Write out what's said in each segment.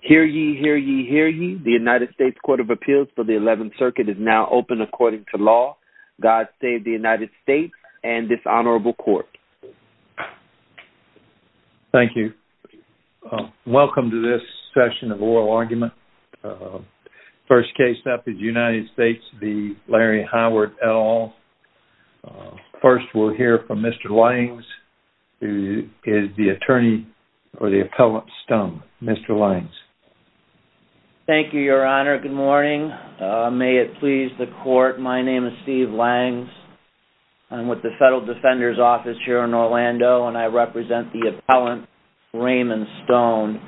Hear ye, hear ye, hear ye. The United States Court of Appeals for the 11th Circuit is now open according to law. God save the United States and this honorable court. Thank you. Welcome to this session of Oral Argument. First case up is United States v. Larry Howard, et al. First we'll hear from Mr. Lyons, who is the attorney or the appellant Stone. Mr. Lyons. Thank you, your honor. Good morning. May it please the court, my name is Steve Lyons. I'm with the Federal Defender's Office here in Orlando and I represent the appellant Raymond Stone.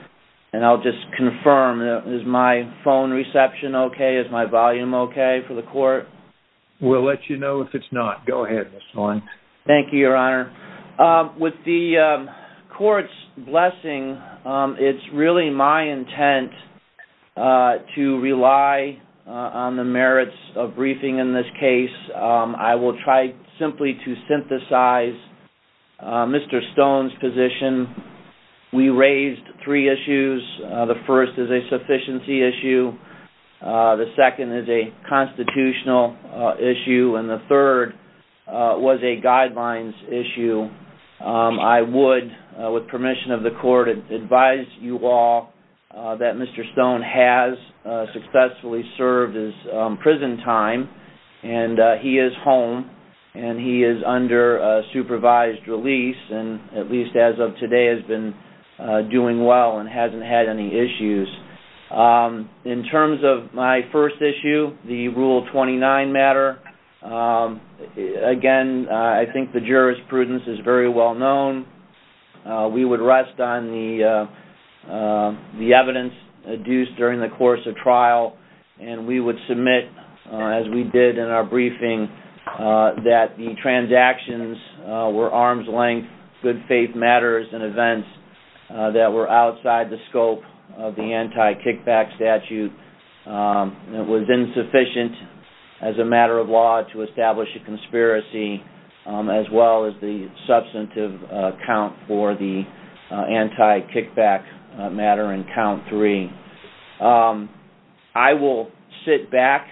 And I'll just confirm, is my phone reception okay? Is my volume okay for the court? We'll let you know if it's not. Go ahead, Mr. Lyons. Thank you, your honor. With the court's blessing, it's really my intent to rely on the merits of briefing in this case. I will try simply to synthesize Mr. Stone's position. We raised three issues. The first is a sufficiency issue. The second is a constitutional issue. And the third was a guidelines issue. I would, with permission of the court, advise you all that Mr. Stone has successfully served his prison time and he is home and he is under supervised release and at least as of today has been doing well and hasn't had any issues. In terms of my first issue, the Rule 29 matter, again, I think the jurisprudence is very well known. We would rest on the evidence adduced during the course of trial and we would submit, as we did in our briefing, that the transactions were arm's length, good faith matters and events that were outside the scope of the anti-kickback statute. It was insufficient as a matter of law to establish a conspiracy as well as the substantive count for the anti-kickback matter in count three. I will sit back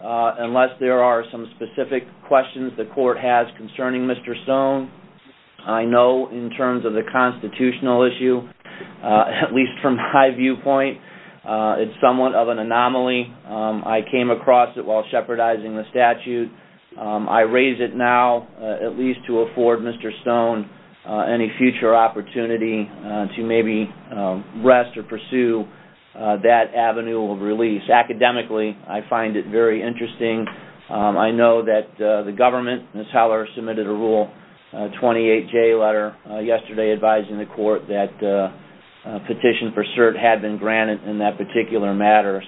unless there are some specific questions the court has concerning Mr. Stone. I know in terms of the constitutional issue, at least from my viewpoint, it's somewhat of an anomaly. I came across it while shepherdizing the statute. I raise it now at least to afford Mr. Stone any future opportunity to maybe rest or pursue that avenue of release. Academically, I find it very interesting. I know that the government, Ms. Heller, submitted a Rule 28J letter yesterday advising the court that a petition for cert had been granted in that particular matter.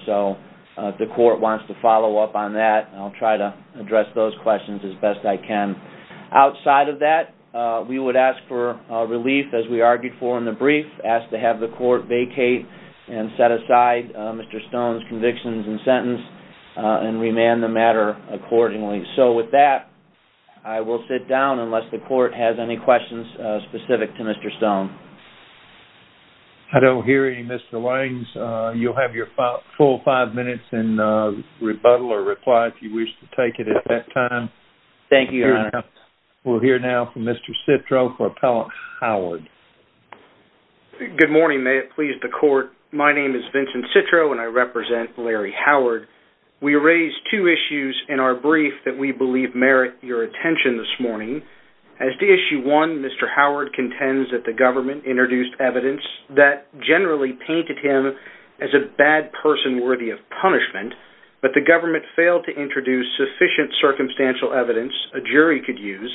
If the court wants to follow up on that, I'll try to address those questions as best I can. Outside of that, we would ask for relief, as we argued for in the brief, ask to have the court vacate and set aside Mr. Stone's convictions and sentence and remand the matter accordingly. So with that, I will sit down unless the court has any questions specific to Mr. Stone. I don't hear any, Mr. Waynes. You'll have your full five minutes and rebuttal or reply if you wish to take it at that time. Thank you, Your Honor. We'll hear now from Mr. Citro for Appellant Howard. Good morning. May it please the court, my name is Vincent Citro and I represent Larry Howard. We raise two issues in our brief that we believe merit your attention this morning. As to issue one, Mr. Howard contends that the government introduced evidence that generally painted him as a bad person worthy of punishment, but the government failed to introduce sufficient circumstantial evidence a jury could use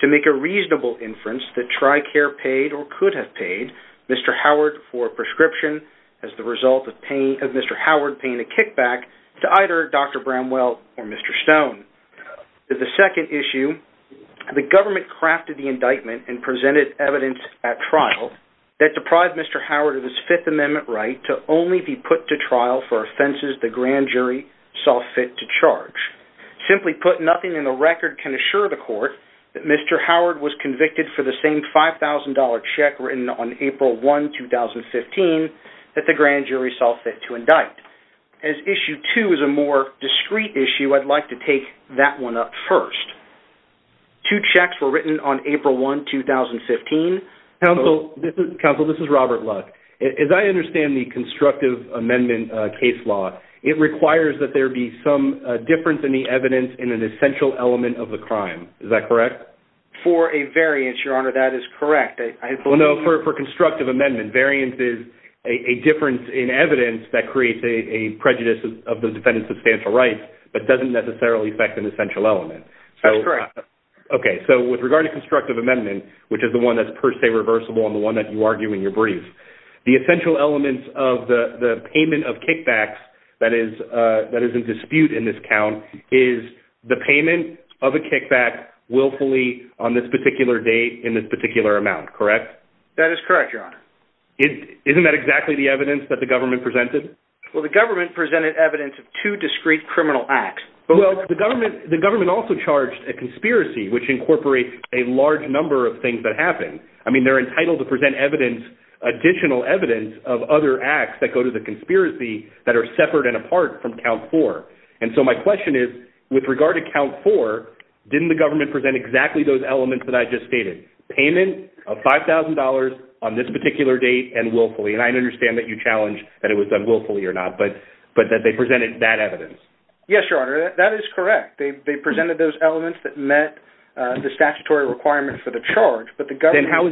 to make a reasonable inference that TRICARE paid or could have paid Mr. Howard for a prescription as the result of Mr. Howard paying a kickback to either Dr. Bramwell or Mr. Stone. The second issue, the government crafted the indictment and presented evidence at trial that deprived Mr. Howard of his Fifth Amendment right to only be put to trial for but nothing in the record can assure the court that Mr. Howard was convicted for the same $5,000 check written on April 1, 2015 that the grand jury saw fit to indict. As issue two is a more discreet issue, I'd like to take that one up first. Two checks were written on April 1, 2015. Counsel, this is Robert Luck. As I understand the constructive amendment case law, it requires that there be some difference in the evidence in an essential element of the crime. Is that correct? For a variance, Your Honor, that is correct. Well, no, for constructive amendment. Variance is a difference in evidence that creates a prejudice of the defendant's substantial rights but doesn't necessarily affect an essential element. That's correct. Okay, so with regard to constructive amendment, which is the one that's per se reversible and the one that you argue in your brief, the essential elements of the payment of kickbacks that is in dispute in this count is the payment of a kickback willfully on this particular date in this particular amount, correct? That is correct, Your Honor. Isn't that exactly the evidence that the government presented? Well, the government presented evidence of two discreet criminal acts. Well, the government also charged a conspiracy, which incorporates a large number of things that are additional evidence of other acts that go to the conspiracy that are separate and apart from count four. And so my question is, with regard to count four, didn't the government present exactly those elements that I just stated? Payment of $5,000 on this particular date and willfully. And I understand that you challenge that it was done willfully or not, but that they presented that evidence. Yes, Your Honor, that is correct. They presented those elements that met the statutory requirements for the charge, but the government... Other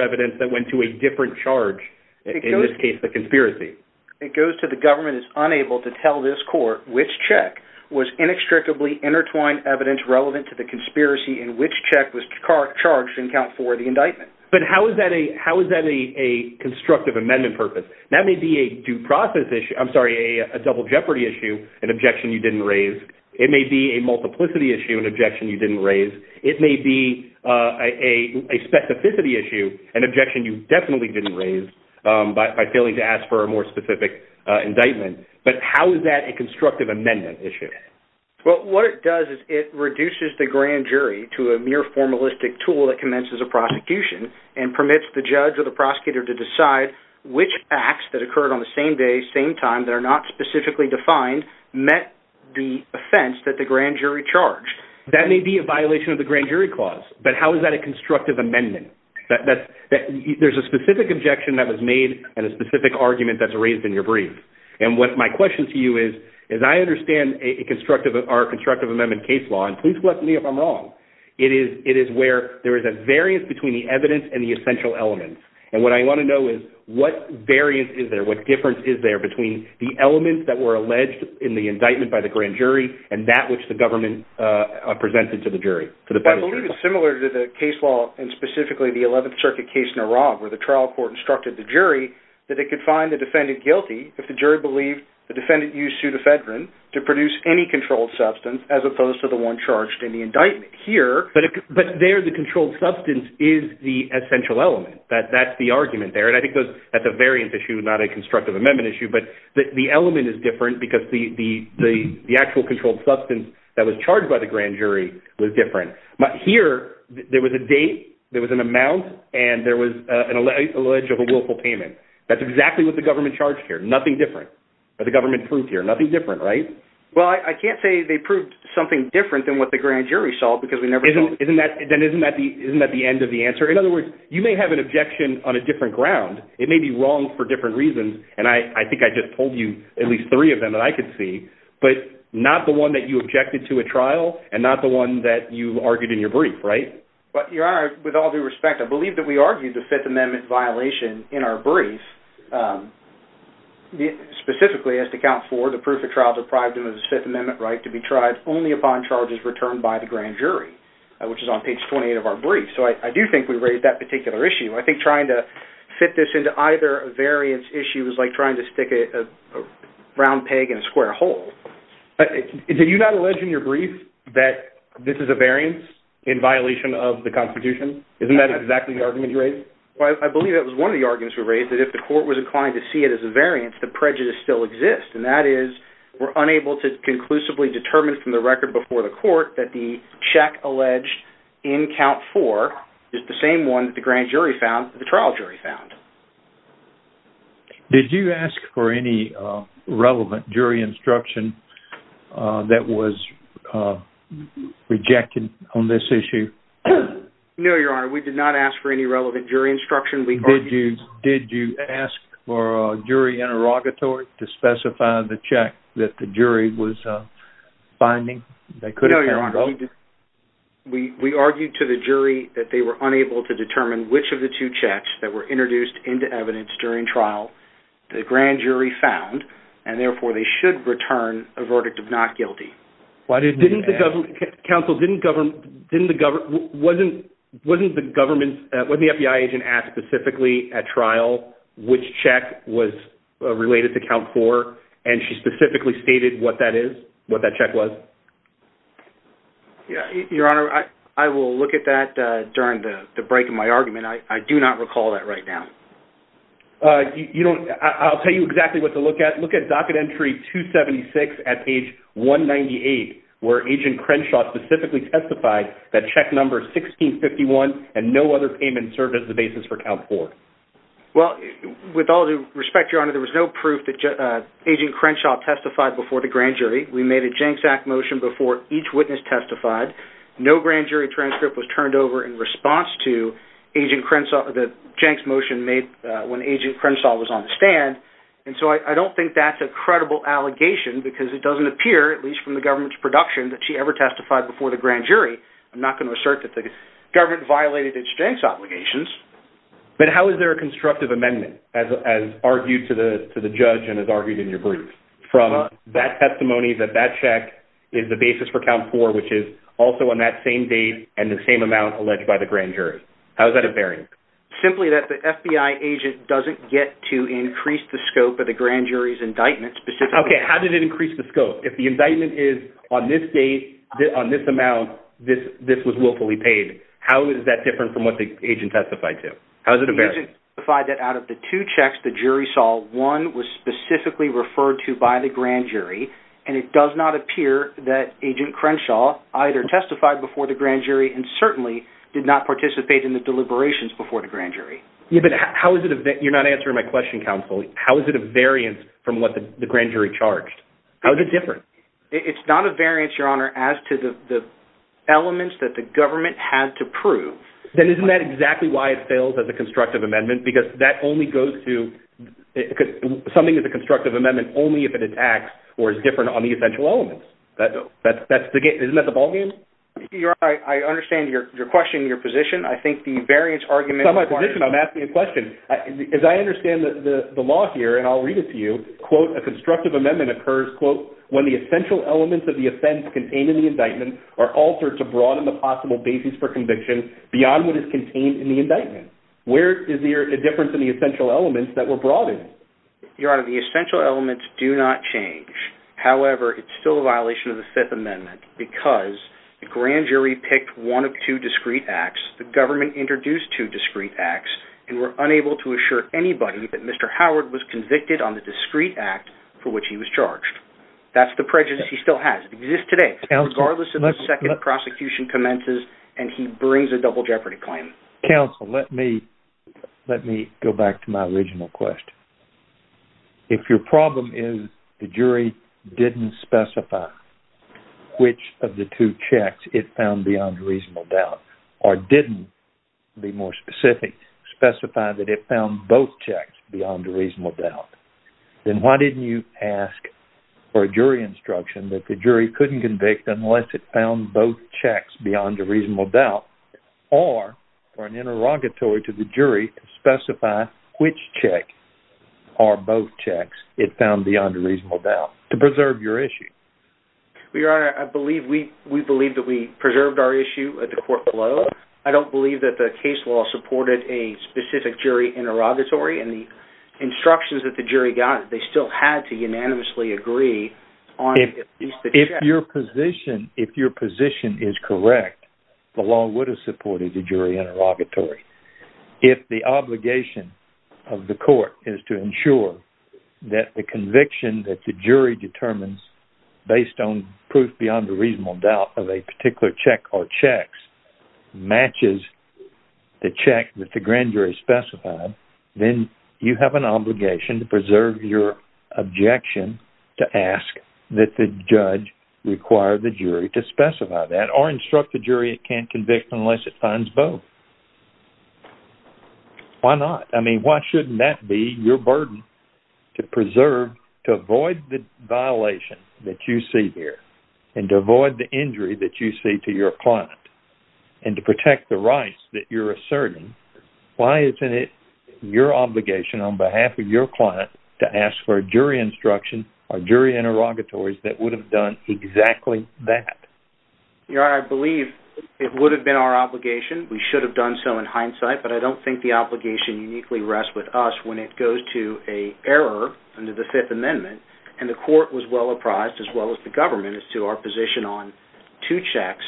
evidence that went to a different charge, in this case, the conspiracy. It goes to the government is unable to tell this court which check was inextricably intertwined evidence relevant to the conspiracy and which check was charged in count four of the indictment. But how is that a constructive amendment purpose? That may be a due process issue. I'm sorry, a double jeopardy issue, an objection you didn't raise. It may be a multiplicity issue, an objection you didn't raise. It may be a specificity issue, an objection you definitely didn't raise by failing to ask for a more specific indictment. But how is that a constructive amendment issue? Well, what it does is it reduces the grand jury to a mere formalistic tool that commences a prosecution and permits the judge or the prosecutor to decide which acts that occurred on the same day, same time, that are not specifically defined, met the offense that the grand jury charged. That may be a violation of the grand jury clause. But how is that a constructive amendment? There's a specific objection that was made and a specific argument that's raised in your brief. And what my question to you is, is I understand a constructive or constructive amendment case law. And please correct me if I'm wrong. It is where there is a variance between the evidence and the essential elements. And what I want to know is what variance is there? What difference is there between the elements that were alleged in the indictment by the grand jury and that which the government presented to the jury? I believe it's similar to the case law and specifically the 11th Circuit case in Iraq, where the trial court instructed the jury that they could find the defendant guilty if the jury believed the defendant used pseudofedron to produce any controlled substance as opposed to the one charged in the indictment. Here, but there the controlled substance is the essential element. That's the argument there. And I think that's a variance issue, not a constructive amendment issue. But the element is different because the actual controlled substance that was charged by the grand jury was different. But here, there was a date, there was an amount, and there was an alleged willful payment. That's exactly what the government charged here. Nothing different. The government proved here. Nothing different, right? Well, I can't say they proved something different than what the grand jury saw, because we never know. Then isn't that the end of the answer? In other words, you may have an objection on a different ground. It may be wrong for different reasons. And I think I just told you at least three of them that I could see, but not the one that you objected to a trial and not the one that you argued in your brief, right? Well, Your Honor, with all due respect, I believe that we argued the Fifth Amendment violation in our brief specifically as to count for the proof of trial deprived of the Fifth Amendment right to be tried only upon charges returned by the grand jury, which is on page 28 of our brief. So I do think we raised that particular issue. I think trying to fit this into either variance issue was like trying to stick a round peg in a square hole. Did you not allege in your brief that this is a variance in violation of the Constitution? Isn't that exactly the argument you raised? I believe that was one of the arguments we raised, that if the court was inclined to see it as a variance, the prejudice still exists. And that is we're unable to conclusively determine from the record before the court that the check alleged in count four is the same one that the grand jury found, the trial jury found. Did you ask for any relevant jury instruction that was rejected on this issue? No, Your Honor, we did not ask for any relevant jury instruction. Did you ask for a jury interrogatory to specify the check that the jury was finding? No, Your Honor, we argued to the jury that they were unable to determine which of the two checks that were introduced into evidence during trial the grand jury found, and therefore they should return a verdict of not guilty. Counsel, wasn't the FBI agent asked specifically at trial which check was related to count four, and she specifically stated what that check was? Yeah, Your Honor, I will look at that during the break of my argument. I do not recall that right now. I'll tell you exactly what to look at. Look at docket entry 276 at page 198, where Agent Crenshaw specifically testified that check number 1651 and no other payment served as the basis for count four. Well, with all due respect, Your Honor, there was no proof that Agent Crenshaw testified before the grand jury. We made a Jenks Act motion before each witness testified. No grand jury transcript was turned over in response to Agent Crenshaw, the Jenks motion made when Agent Crenshaw was on the stand. And so I don't think that's a credible allegation because it doesn't appear, at least from the government's production, that she ever testified before the grand jury. I'm not going to assert that the government violated its Jenks obligations. But how is there a constructive amendment as argued to the judge and as argued in your brief from that testimony that that check is the basis for count four, which is also on that same date and the same amount alleged by the grand jury? How is that a bearing? Simply that the FBI agent doesn't get to increase the scope of the grand jury's indictment. Okay, how did it increase the scope? If the indictment is on this date, on this amount, this was willfully paid, how is that different from what the agent testified to? How is it a bearing? The agent testified that out of the two checks the jury saw, one was specifically referred to by the grand jury. And it does not appear that Agent Crenshaw either testified before the grand jury and certainly did not participate in the deliberations before the grand jury. Yeah, but how is it that you're not answering my question, counsel? How is it a variance from what the grand jury charged? How is it different? It's not a variance, Your Honor, as to the elements that the government had to prove. Then isn't that exactly why it fails as a constructive amendment? Because that only goes to... Something is a constructive amendment only if it attacks or is different on the essential elements. Isn't that the ballgame? Your Honor, I understand your question, your position. I think the variance argument... It's not my position, I'm asking a question. As I understand the law here, and I'll read it to you, quote, a constructive amendment occurs, quote, when the essential elements of the offense contained in the indictment are altered to broaden the possible basis for conviction beyond what is contained in the indictment. Where is the difference in the essential elements that were broadened? Your Honor, the essential elements do not change. However, it's still a violation of the Fifth Amendment because the grand jury picked one of two discreet acts, the government introduced two discreet acts, and were unable to assure anybody that Mr. Howard was convicted on the discreet act for which he was charged. That's the prejudice he still has. It exists today, regardless of the second prosecution commences, and he brings a double jeopardy claim. Counsel, let me go back to my original question. If your problem is the jury didn't specify which of the two checks it found beyond a reasonable doubt, or didn't, to be more specific, specify that it found both checks beyond a reasonable doubt, then why didn't you ask for a jury instruction that the jury couldn't convict unless it found both checks beyond a reasonable doubt, or for an interrogatory to the jury to specify which check or both checks it found beyond a reasonable doubt to preserve your issue? Well, Your Honor, I believe we preserved our issue at the court below. I don't believe that the case law supported a specific jury interrogatory, and the instructions that the jury got, they still had to unanimously agree on at least the check. If your position is correct, the law would have supported the jury interrogatory. If the obligation of the court is to ensure that the conviction that the jury determines based on proof beyond a reasonable doubt of a particular check or checks matches the check that the grand jury specified, then you have an obligation to preserve your objection to ask that the judge require the jury to specify that, or instruct the jury it can't convict unless it finds both. Why not? I mean, why shouldn't that be your burden to preserve, to avoid the violation that you see here, and to avoid the injury that you see to your client, and to protect the rights that you're asserting? Why isn't it your obligation on behalf of your client to ask for a jury instruction or jury interrogatories that would have done exactly that? I believe it would have been our obligation. We should have done so in hindsight, but I don't think the obligation uniquely rests with us when it goes to an error under the Fifth Amendment, and the court was well apprised, as well as the government, as to our position on two checks,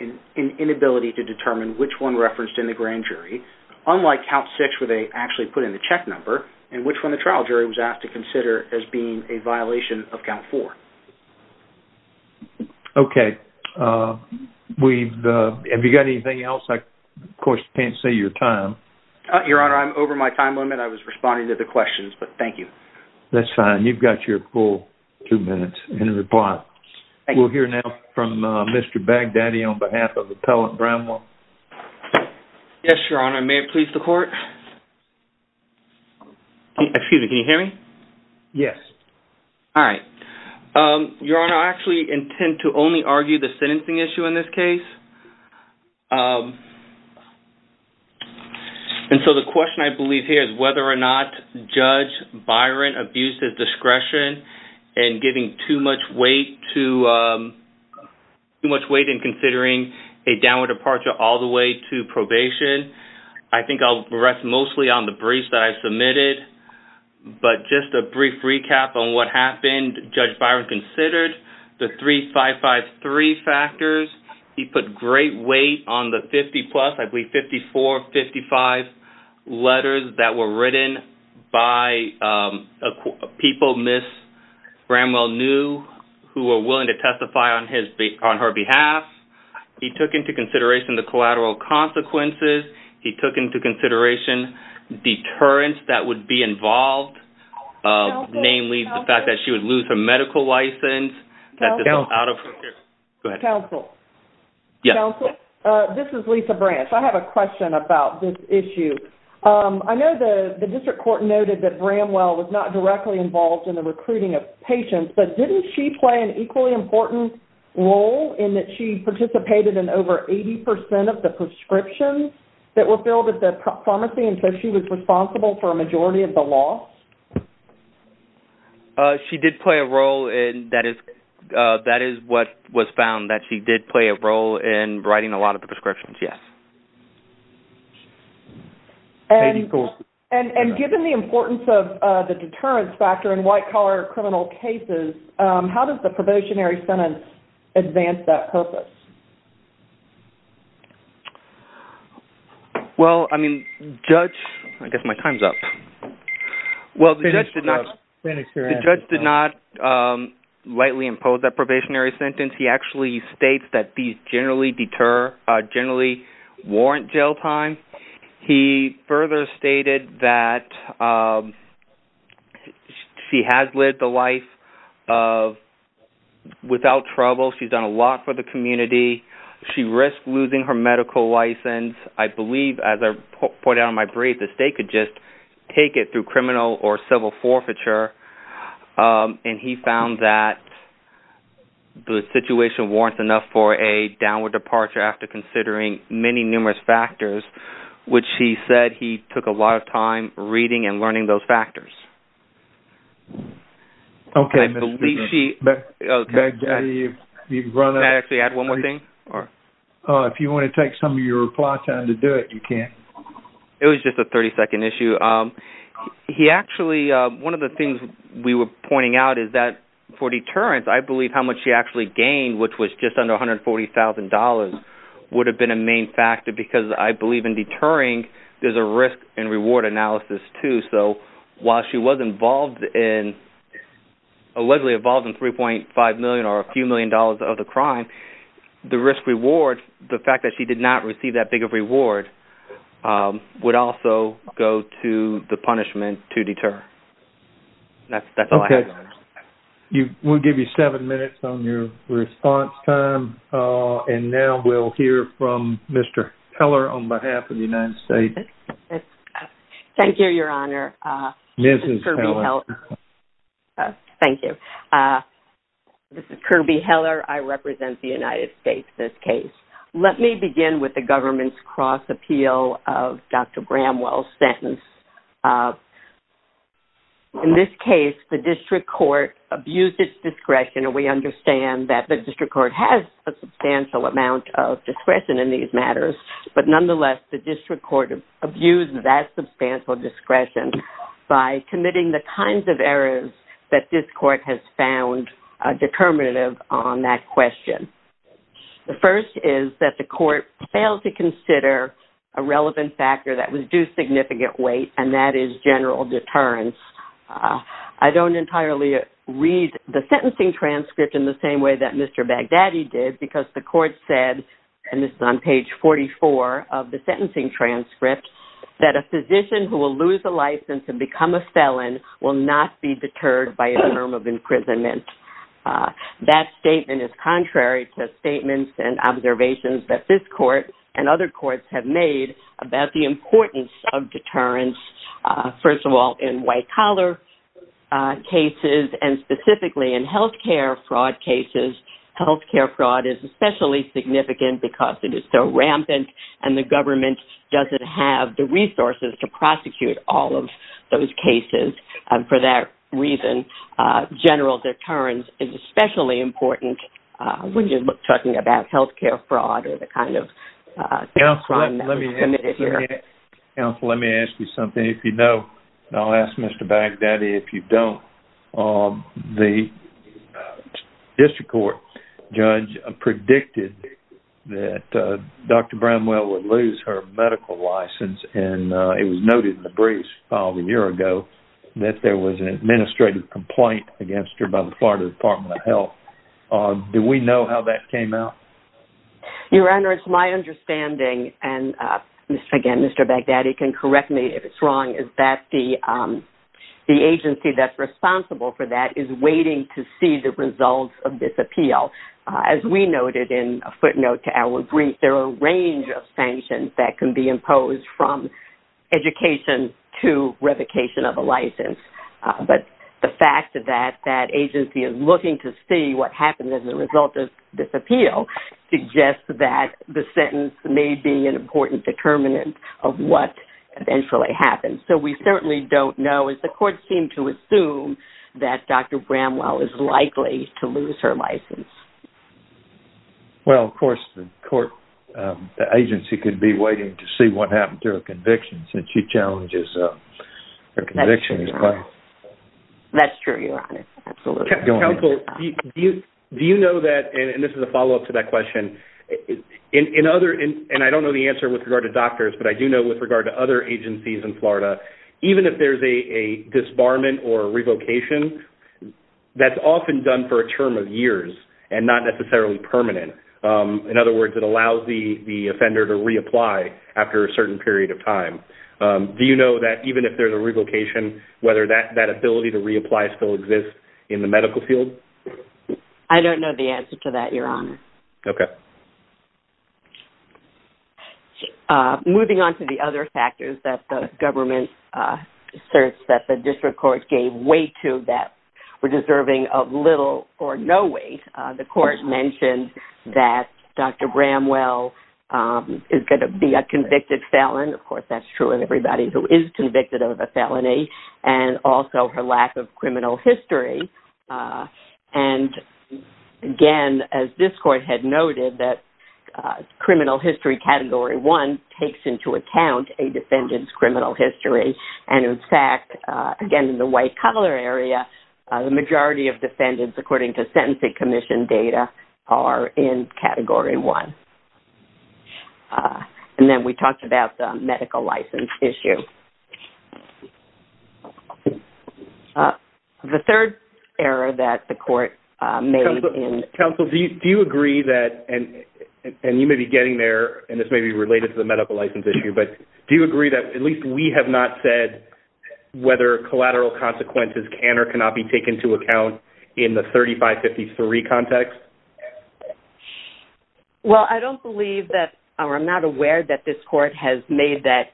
an inability to determine which one referenced in the grand jury, unlike count six where they actually put in the check number, and which one the trial jury was asked to consider as being a violation of count four. Okay, have you got anything else? I, of course, can't see your time. Your Honor, I'm over my time limit. I was responding to the questions, but thank you. That's fine. You've got your full two minutes in reply. Thank you. We'll hear now from Mr. Bagdaddy on behalf of Appellant Brownlaw. Yes, Your Honor. May it please the court? Excuse me, can you hear me? Yes. All right. Your Honor, I actually intend to only argue the sentencing issue in this case, and so the question I believe here is whether or not Judge Byron abused his discretion in giving too much weight to... too much weight in considering a downward departure all the way to probation. I think I'll rest mostly on the briefs that I submitted, but just a brief recap on what happened. Judge Byron considered the 3553 factors. He put great weight on the 50-plus, I believe 54, 55 letters that were written by people Ms. Bramwell knew who were willing to testify on her behalf. He took into consideration the collateral consequences. He took into consideration deterrents that would be involved, namely the fact that she would lose her medical license, that this was out of... Counsel. Yes. This is Lisa Branch. I have a question about this issue. I know the district court noted that Bramwell was not directly involved in the recruiting of patients, but didn't she play an equally important role in that she participated in over 80% of the prescriptions that were filled at the pharmacy, and so she was responsible for a majority of the loss? She did play a role, and that is what was found, that she did play a role in writing a lot of the prescriptions, yes. And given the importance of the deterrence factor in white-collar criminal cases, how does the probationary sentence advance that purpose? Well, I mean, the judge... I guess my time's up. Well, the judge did not lightly impose that probationary sentence. He actually states that these generally deter, generally warrant jail time. He further stated that she has lived the life of without trouble. She's done a lot for the community. She risked losing her medical license. I believe, as I pointed out in my brief, the state could just take it through criminal or civil forfeiture. And he found that the situation warrants enough for a downward departure after considering many numerous factors, which he said he took a lot of time reading and learning those factors. Okay. I believe she... Can I actually add one more thing? If you want to take some of your reply time to do it, you can. It was just a 30-second issue. He actually, one of the things we were pointing out is that for deterrence, I believe how much she actually gained, which was just under $140,000, would have been a main factor because I believe in deterring, there's a risk and reward analysis too. While she was allegedly involved in $3.5 million or a few million dollars of the crime, the risk-reward, the fact that she did not receive that big of reward would also go to the punishment to deter. That's all I have. We'll give you seven minutes on your response time. And now we'll hear from Mr. Teller on behalf of the United States. Yes. Thank you, Your Honor. Thank you. This is Kirby Heller. I represent the United States in this case. Let me begin with the government's cross appeal of Dr. Bramwell's sentence. In this case, the district court abused its discretion, and we understand that the district court has a substantial amount of discretion in these matters. But nonetheless, the district court abused that substantial discretion by committing the kinds of errors that this court has found determinative on that question. The first is that the court failed to consider a relevant factor that was due significant weight, and that is general deterrence. I don't entirely read the sentencing transcript in the same way that Mr. Baghdadi did because the court said, and this is on page 44 of the sentencing transcript, that a physician who will lose a license and become a felon will not be deterred by a term of imprisonment. That statement is contrary to statements and observations that this court and other courts have made about the importance of deterrence, first of all, in white-collar cases and specifically in healthcare fraud cases. Healthcare fraud is especially significant because it is so rampant, and the government doesn't have the resources to prosecute all of those cases. For that reason, general deterrence is especially important when you're talking about healthcare fraud or the kind of crime that's committed here. Counsel, let me ask you something. If you know, and I'll ask Mr. Baghdadi if you don't, the district court judge predicted that Dr. Brownwell would lose her medical license, and it was noted in the briefs filed a year ago that there was an administrative complaint against her by the Florida Department of Health. Do we know how that came out? Your Honor, it's my understanding, and again, Mr. Baghdadi can correct me if it's wrong, is that the agency that's responsible for that is waiting to see the results of this appeal. As we noted in a footnote to our brief, there are a range of sanctions that can be imposed from education to revocation of a license. But the fact that that agency is looking to see what happens as a result of this appeal suggests that the sentence may be an important determinant of what eventually happens. So we certainly don't know. The court seemed to assume that Dr. Brownwell is likely to lose her license. Well, of course, the agency could be waiting to see what happens to her conviction, since she challenges her conviction. That's true, Your Honor. Absolutely. Counsel, do you know that, and this is a follow-up to that question, and I don't know the answer with regard to doctors, but I do know with regard to other agencies in Florida, even if there's a disbarment or revocation, that's often done for a term of years and not necessarily permanent. In other words, it allows the offender to reapply after a certain period of time. Do you know that even if there's a revocation, whether that ability to reapply still exists in the medical field? I don't know the answer to that, Your Honor. Okay. Moving on to the other factors that the government asserts that the district court gave weight to that were deserving of little or no weight, the court mentioned that Dr. Brownwell is going to be a convicted felon. Of course, that's true of everybody who is convicted of a felony and also her lack of criminal history. And again, as this court had noted that criminal history Category 1 takes into account a defendant's criminal history. And in fact, again, in the white-collar area, the majority of defendants, according to sentencing commission data, are in Category 1. And then we talked about the medical license issue. The third error that the court made in... Counsel, do you agree that... And you may be getting there, and this may be related to the medical license issue, but do you agree that at least we have not said whether collateral consequences can or cannot be taken into account in the 3553 context? Well, I don't believe that... Or I'm not aware that this court has made that...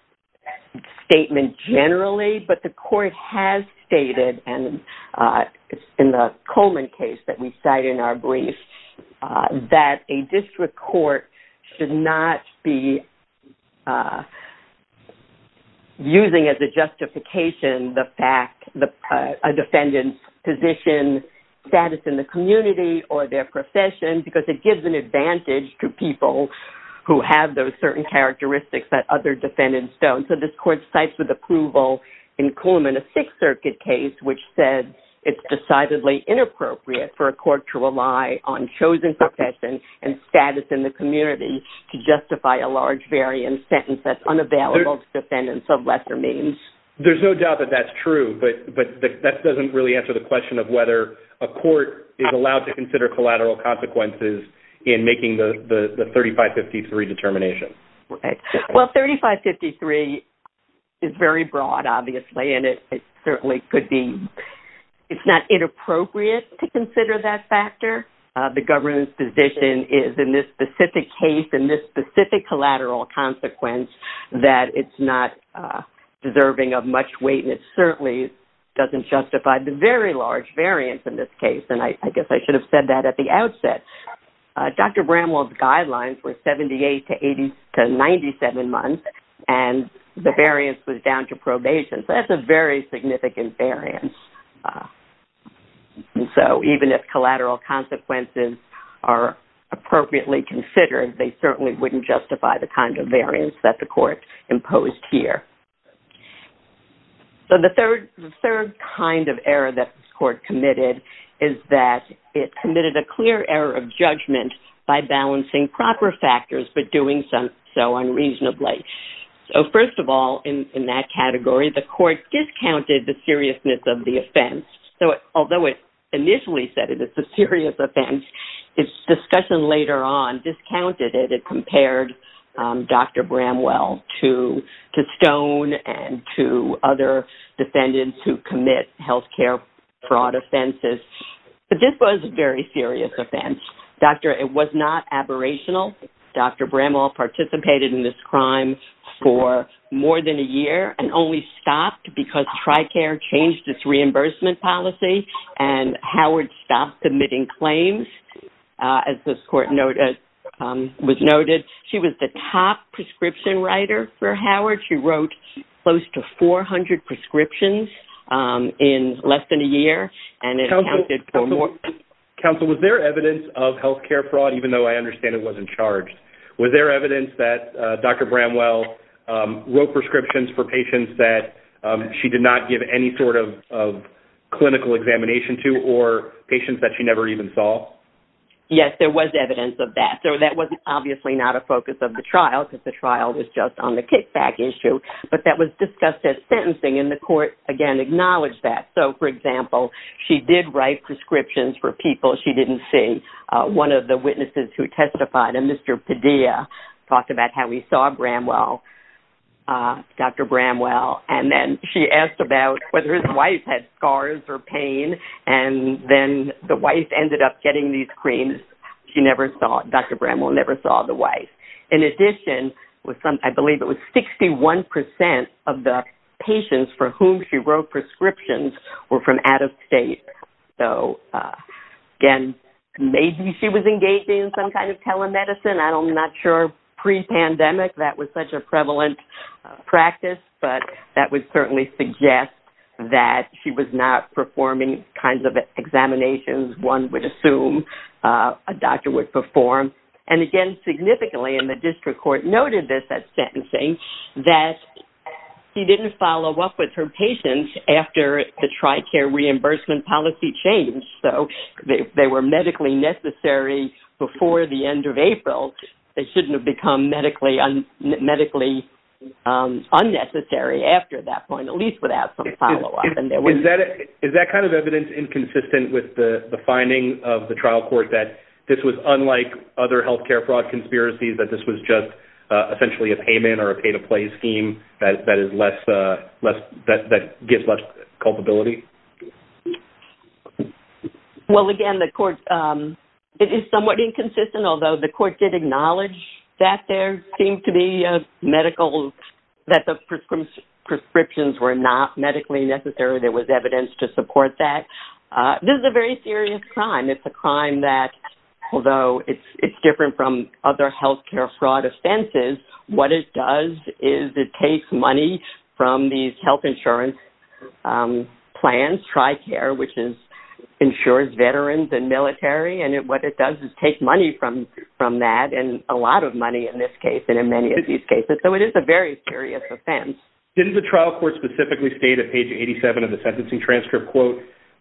...statement generally, but the court has stated, and it's in the Coleman case that we cite in our brief, that a district court should not be... ...using as a justification the fact that a defendant's position, status in the community, or their profession, because it gives an advantage to people who have those certain characteristics that other defendants don't. So this court cites with approval in Coleman, a Sixth Circuit case, which said it's decidedly inappropriate for a court to rely on chosen profession and status in the community to justify a large variant sentence that's unavailable to defendants of lesser means. There's no doubt that that's true, but that doesn't really answer the question of whether a court is allowed to consider collateral consequences in making the 3553 determination. Well, 3553 is very broad, obviously, and it certainly could be... It's not inappropriate to consider that factor. The government's position is, in this specific case, in this specific collateral consequence, that it's not deserving of much weight, and it certainly doesn't justify the very large variance in this case. And I guess I should have said that at the outset. Dr. Bramwell's guidelines were 78 to 97 months, and the variance was down to probation. So that's a very significant variance. So even if collateral consequences are appropriately considered, they certainly wouldn't justify the kind of variance that the court imposed here. So the third kind of error that this court committed is that it committed a clear error of judgment by balancing proper factors but doing so unreasonably. So first of all, in that category, the court discounted the seriousness of the offense. So although it initially said it was a serious offense, its discussion later on discounted it. It compared Dr. Bramwell to Stone and to other defendants who commit healthcare fraud offenses. But this was a very serious offense. It was not aberrational. Dr. Bramwell participated in this crime for more than a year and only stopped because TRICARE changed its reimbursement policy and Howard stopped submitting claims, as this court was noted. She was the top prescription writer for Howard. She wrote close to 400 prescriptions in less than a year. Counsel, was there evidence of healthcare fraud, even though I understand it wasn't charged? Was there evidence that Dr. Bramwell wrote prescriptions for patients that she did not give any sort of clinical examination to or patients that she never even saw? Yes, there was evidence of that. That was obviously not a focus of the trial because the trial was just on the kickback issue, but that was discussed as sentencing and the court, again, acknowledged that. So for example, she did write prescriptions for people she didn't see. One of the witnesses who testified, a Mr. Padilla, talked about how he saw Dr. Bramwell and then she asked about whether his wife had scars or pain and then the wife ended up getting these creams. Dr. Bramwell never saw the wife. In addition, I believe it was 61% of the patients for whom she wrote prescriptions were from out of state. So again, maybe she was engaging in some kind of telemedicine. I'm not sure. Pre-pandemic, that was such a prevalent practice, but that would certainly suggest that she was not performing kinds of examinations one would assume a doctor would perform. And again, significantly, and the district court noted this at sentencing, that he didn't follow up with her patients after the TRICARE reimbursement policy changed. So they were medically necessary before the end of April. They shouldn't have become medically unnecessary after that point, at least without some follow-up. Is that kind of evidence inconsistent with the finding of the trial court that this was unlike other healthcare fraud conspiracies, that this was just essentially a payment or a pay-to-play scheme that gives less culpability? Well, again, the court, it is somewhat inconsistent, although the court did acknowledge that there seemed to be medical, that the prescriptions were not medically necessary. There was evidence to support that. This is a very serious crime. It's a crime that, although it's different from other healthcare fraud offenses, what it does is it takes money from these health insurance plans, TRICARE, which insures veterans and military, and what it does is take money from that, and a lot of money in this case and in many of these cases. So it is a very serious offense. Didn't the trial court specifically state at page 87 of the sentencing transcript,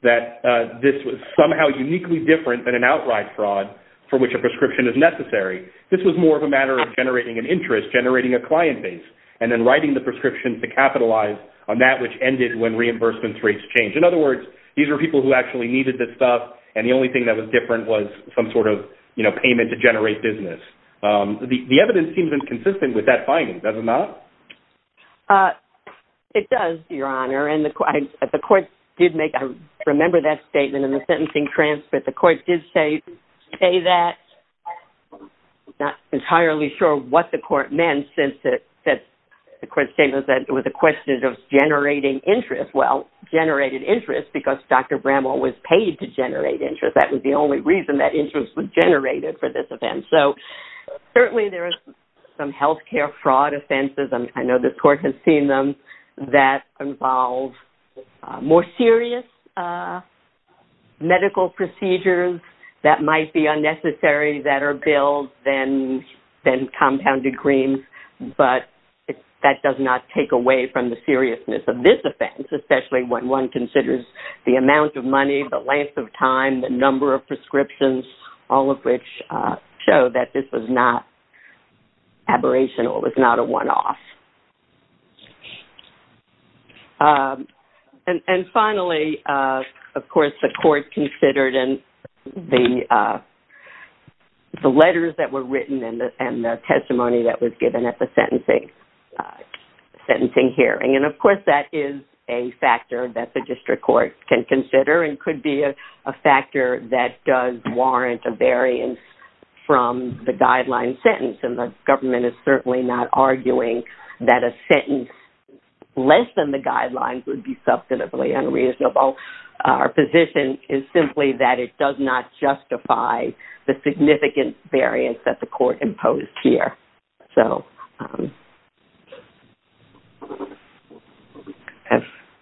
that this was somehow uniquely different than an outright fraud for which a prescription is necessary? This was more of a matter of generating an interest, generating a client base, and then writing the prescription to capitalize on that which ended when reimbursement rates changed. In other words, these were people who actually needed this stuff, and the only thing that was different was some sort of payment to generate business. The evidence seems inconsistent with that finding, does it not? It does, Your Honor, the court did make, I remember that statement in the sentencing transcript, the court did say that. I'm not entirely sure what the court meant, since the court statement said it was a question of generating interest. Well, generated interest because Dr. Bramall was paid to generate interest. That was the only reason that interest was generated for this event. So certainly there is some healthcare fraud offenses, I know the court has seen them, that involve more serious medical procedures that might be unnecessary that are billed than compounded greens. But that does not take away from the seriousness of this offense, especially when one considers the amount of money, the length of time, the number of prescriptions, all of which show that this was not aberrational, it was not a one-off. And finally, of course, the court considered the letters that were written and the testimony that was given at the sentencing hearing. And of course, that is a factor that the district court can consider and could be a factor that does warrant a variance from the guideline sentence. The government is certainly not arguing that a sentence less than the guidelines would be substantively unreasonable. Our position is simply that it does not justify the significant variance that the court imposed here.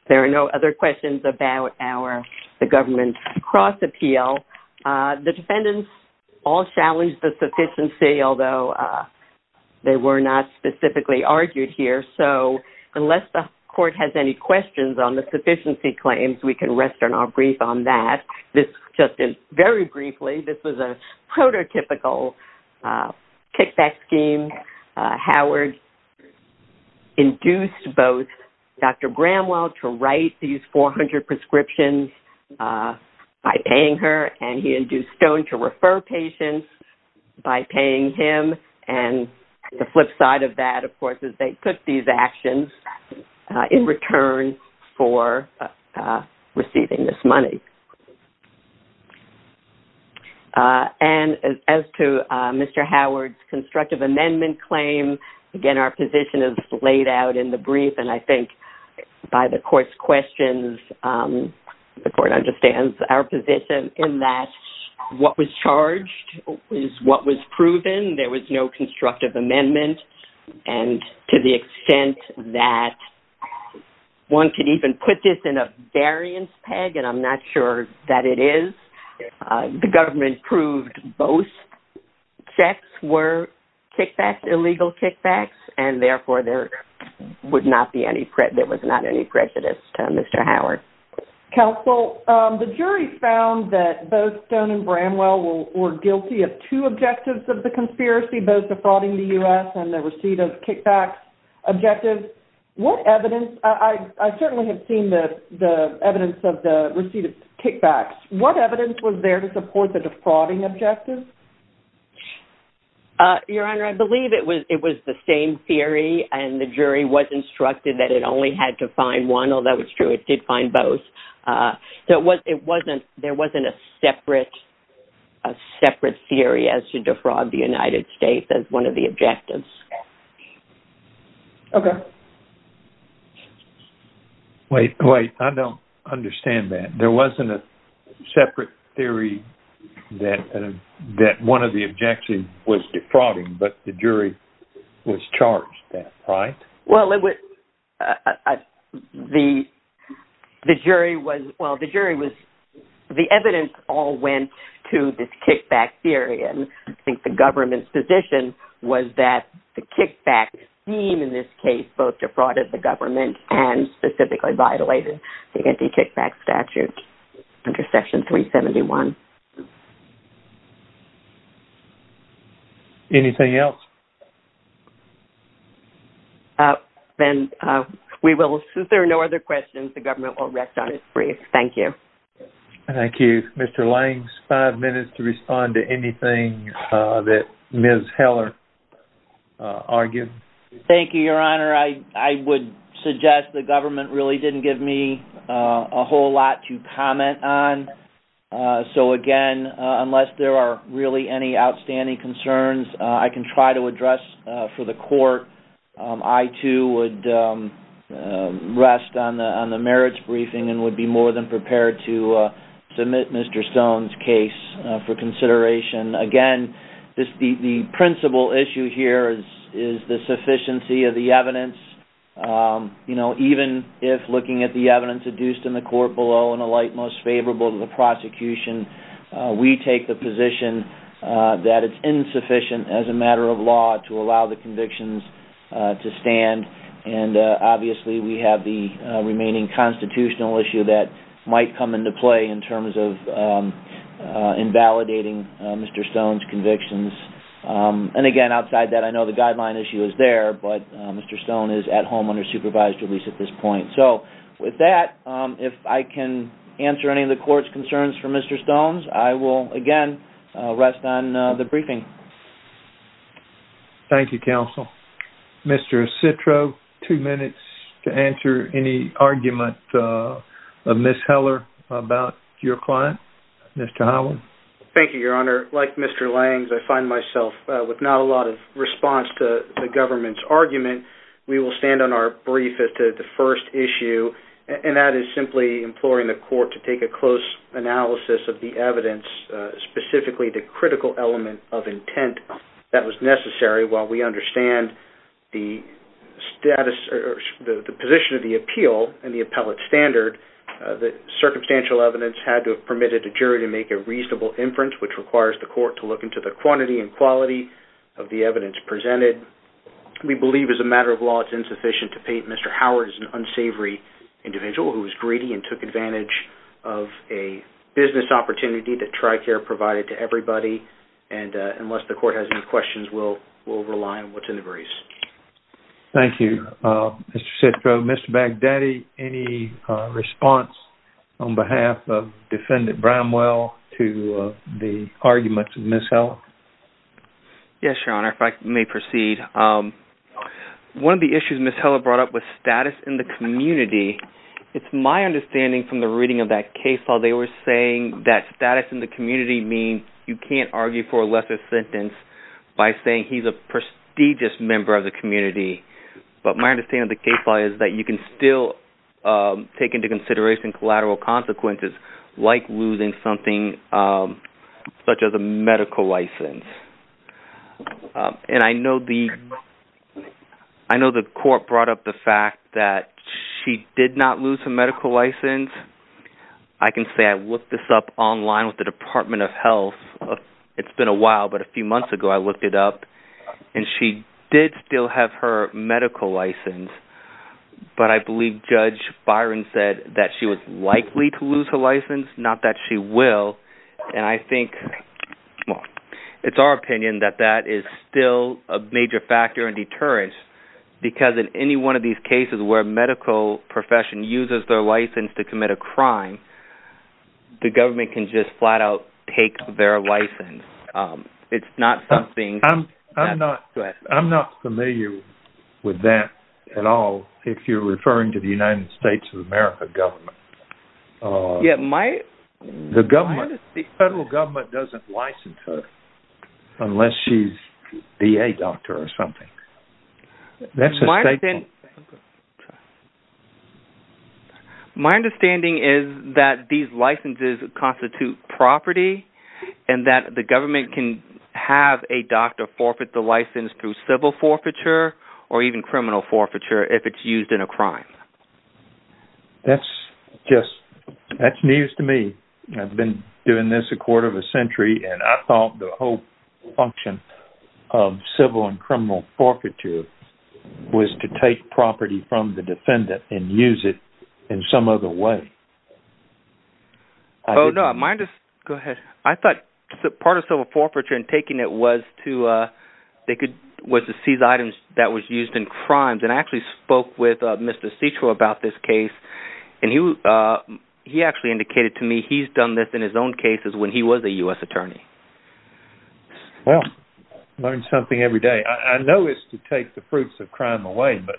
There are no other questions about the government's cross-appeal. The defendants all challenged the sufficiency, although they were not specifically argued here. So unless the court has any questions on the sufficiency claims, we can rest on our brief on that. This, just very briefly, this was a prototypical kickback scheme. Howard induced both Dr. Bramwell to write these 400 prescriptions by paying her, and he induced Stone to refer patients by paying him. And the flip side of that, of course, is they took these actions in return for receiving this money. And as to Mr. Howard's constructive amendment claim, again, our position is laid out in the brief. And I think by the court's questions, the court understands our position in that what was charged is what was proven. There was no constructive amendment. And to the extent that one could even put this in a variance peg, and I'm not sure that it is, the government proved both checks were kickbacks, illegal kickbacks, and therefore there would not be any, there was not any prejudice to Mr. Howard. Counsel, the jury found that both Stone and Bramwell were guilty of two objectives of the conspiracy, both defrauding the U.S. and the receipt of kickbacks objective. What evidence, I certainly have seen the evidence of the receipt of kickbacks. What evidence was there to support the defrauding objective? Your Honor, I believe it was the same theory and the jury was instructed that it only had to find one, although it's true it did find both. So it wasn't, there wasn't a separate, a separate theory as to defraud the United States as one of the objectives. Okay. Wait, wait, I don't understand that. There wasn't a separate theory that one of the objections was defrauding, but the jury was charged that, right? Well, it was, the jury was, well, the jury was, the evidence all went to this kickback theory, and I think the government's position was that the kickback scheme in this case both defrauded the government and specifically violated the anti-kickback statute under section 371. Anything else? Then we will, since there are no other questions, the government will rest on its brief. Thank you. Thank you. Mr. Langs, five minutes to respond to anything that Ms. Heller argued. Thank you, Your Honor. I would suggest the government really didn't give me a whole lot to comment on. So again, unless there are really any outstanding concerns I can try to address for the court. I too would rest on the merits briefing and would be more than prepared to submit Mr. Stone's case for consideration. Again, the principal issue here is the sufficiency of the evidence. You know, even if looking at the evidence adduced in the court below in a light most favorable to the prosecution, we take the position that it's insufficient as a matter of law to allow the convictions to stand, and obviously we have the remaining constitutional issue that might come into play in terms of invalidating Mr. Stone's convictions. And again, outside that, I know the guideline issue is there, but Mr. Stone is at home under supervised release at this point. So with that, if I can answer any of the court's concerns for Mr. Stone's, I will again rest on the briefing. Thank you, counsel. Mr. Citro, two minutes to answer any argument of Ms. Heller about your client. Mr. Howell. Thank you, Your Honor. Like Mr. Langs, I find myself with not a lot of response to the government's argument. We will stand on our brief as to the first issue, and that is simply imploring the court to take a close analysis of the evidence, specifically the critical element of intent that was necessary while we understand the status or the position of the appeal and the appellate standard that circumstantial evidence had to have permitted a jury to make a reasonable inference, which requires the court to look into the quantity and quality of the evidence presented. We believe as a matter of law, it's insufficient to paint Mr. Howard as an unsavory individual who was greedy and took advantage of a business opportunity that TRICARE provided to everybody. Unless the court has any questions, we'll rely on what's in the briefs. Thank you, Mr. Citro. Mr. Baghdadi, any response on behalf of Defendant Bramwell to the arguments of Ms. Heller? Yes, Your Honor, if I may proceed. One of the issues Ms. Heller brought up was status in the community. It's my understanding from the reading of that case law, they were saying that status in the community can't be argued for a lesser sentence by saying he's a prestigious member of the community. But my understanding of the case law is that you can still take into consideration collateral consequences like losing something such as a medical license. And I know the court brought up the fact that she did not lose her medical license. I can say I looked this up online with the Department of Health. It's been a while, but a few months ago I looked it up. And she did still have her medical license. But I believe Judge Byron said that she was likely to lose her license, not that she will. And I think, well, it's our opinion that that is still a major factor in deterrence. Because in any one of these cases where a medical profession uses their license to commit a crime, the government can just flat out take their license. I'm not familiar with that at all, if you're referring to the United States of America government. The federal government doesn't license her unless she's a VA doctor or something. That's a state thing. My understanding is that these licenses constitute property and that the government can have a doctor forfeit the license through civil forfeiture or even criminal forfeiture if it's used in a crime. That's news to me. I've been doing this a quarter of a century, and I thought the whole function of civil and was to take property from the defendant and use it in some other way. Oh, no, go ahead. I thought part of civil forfeiture and taking it was to seize items that was used in crimes. And I actually spoke with Mr. Citro about this case. And he actually indicated to me he's done this in his own cases when he was a U.S. attorney. Well, learn something every day. I know it's to take the fruits of crime away, but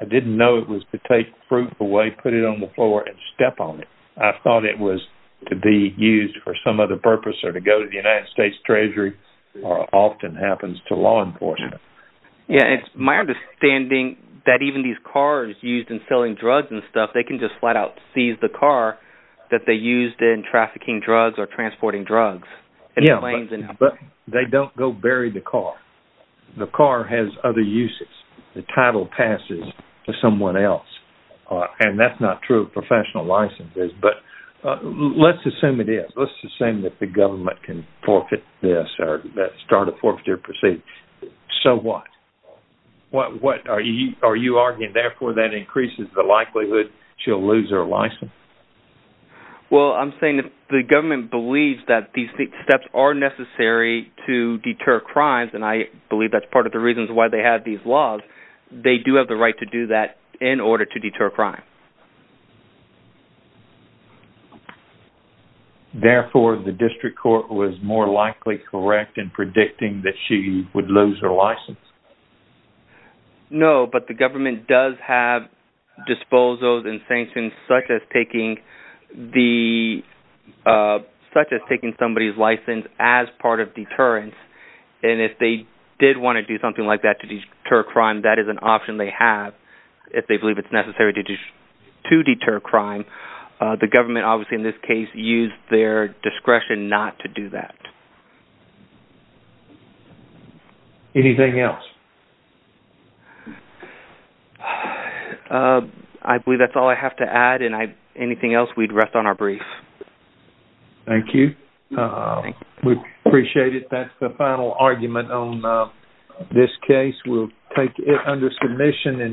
I didn't know it was to take fruit away, put it on the floor and step on it. I thought it was to be used for some other purpose or to go to the United States Treasury or often happens to law enforcement. Yeah, it's my understanding that even these cars used in selling drugs and stuff, they can just flat out seize the car that they used in trafficking drugs or transporting drugs. Yeah, but they don't go bury the car. The car has other uses. The title passes to someone else. And that's not true of professional licenses. But let's assume it is. Let's assume that the government can forfeit this or that start a forfeiture procedure. So what? What are you arguing? Therefore, that increases the likelihood she'll lose her license? Well, I'm saying if the government believes that these steps are necessary to deter crimes, and I believe that's part of the reasons why they have these laws, they do have the right to do that in order to deter crime. Therefore, the district court was more likely correct in predicting that she would lose her license? No, but the government does have disposals and sanctions such as taking somebody's license as part of deterrence. And if they did want to do something like that to deter crime, that is an option they have. If they believe it's necessary to deter crime, the government, obviously, in this case, used their discretion not to do that. Anything else? I believe that's all I have to add. And anything else, we'd rest on our brief. Thank you. We appreciate it. That's the final argument on this case. We'll take it under submission.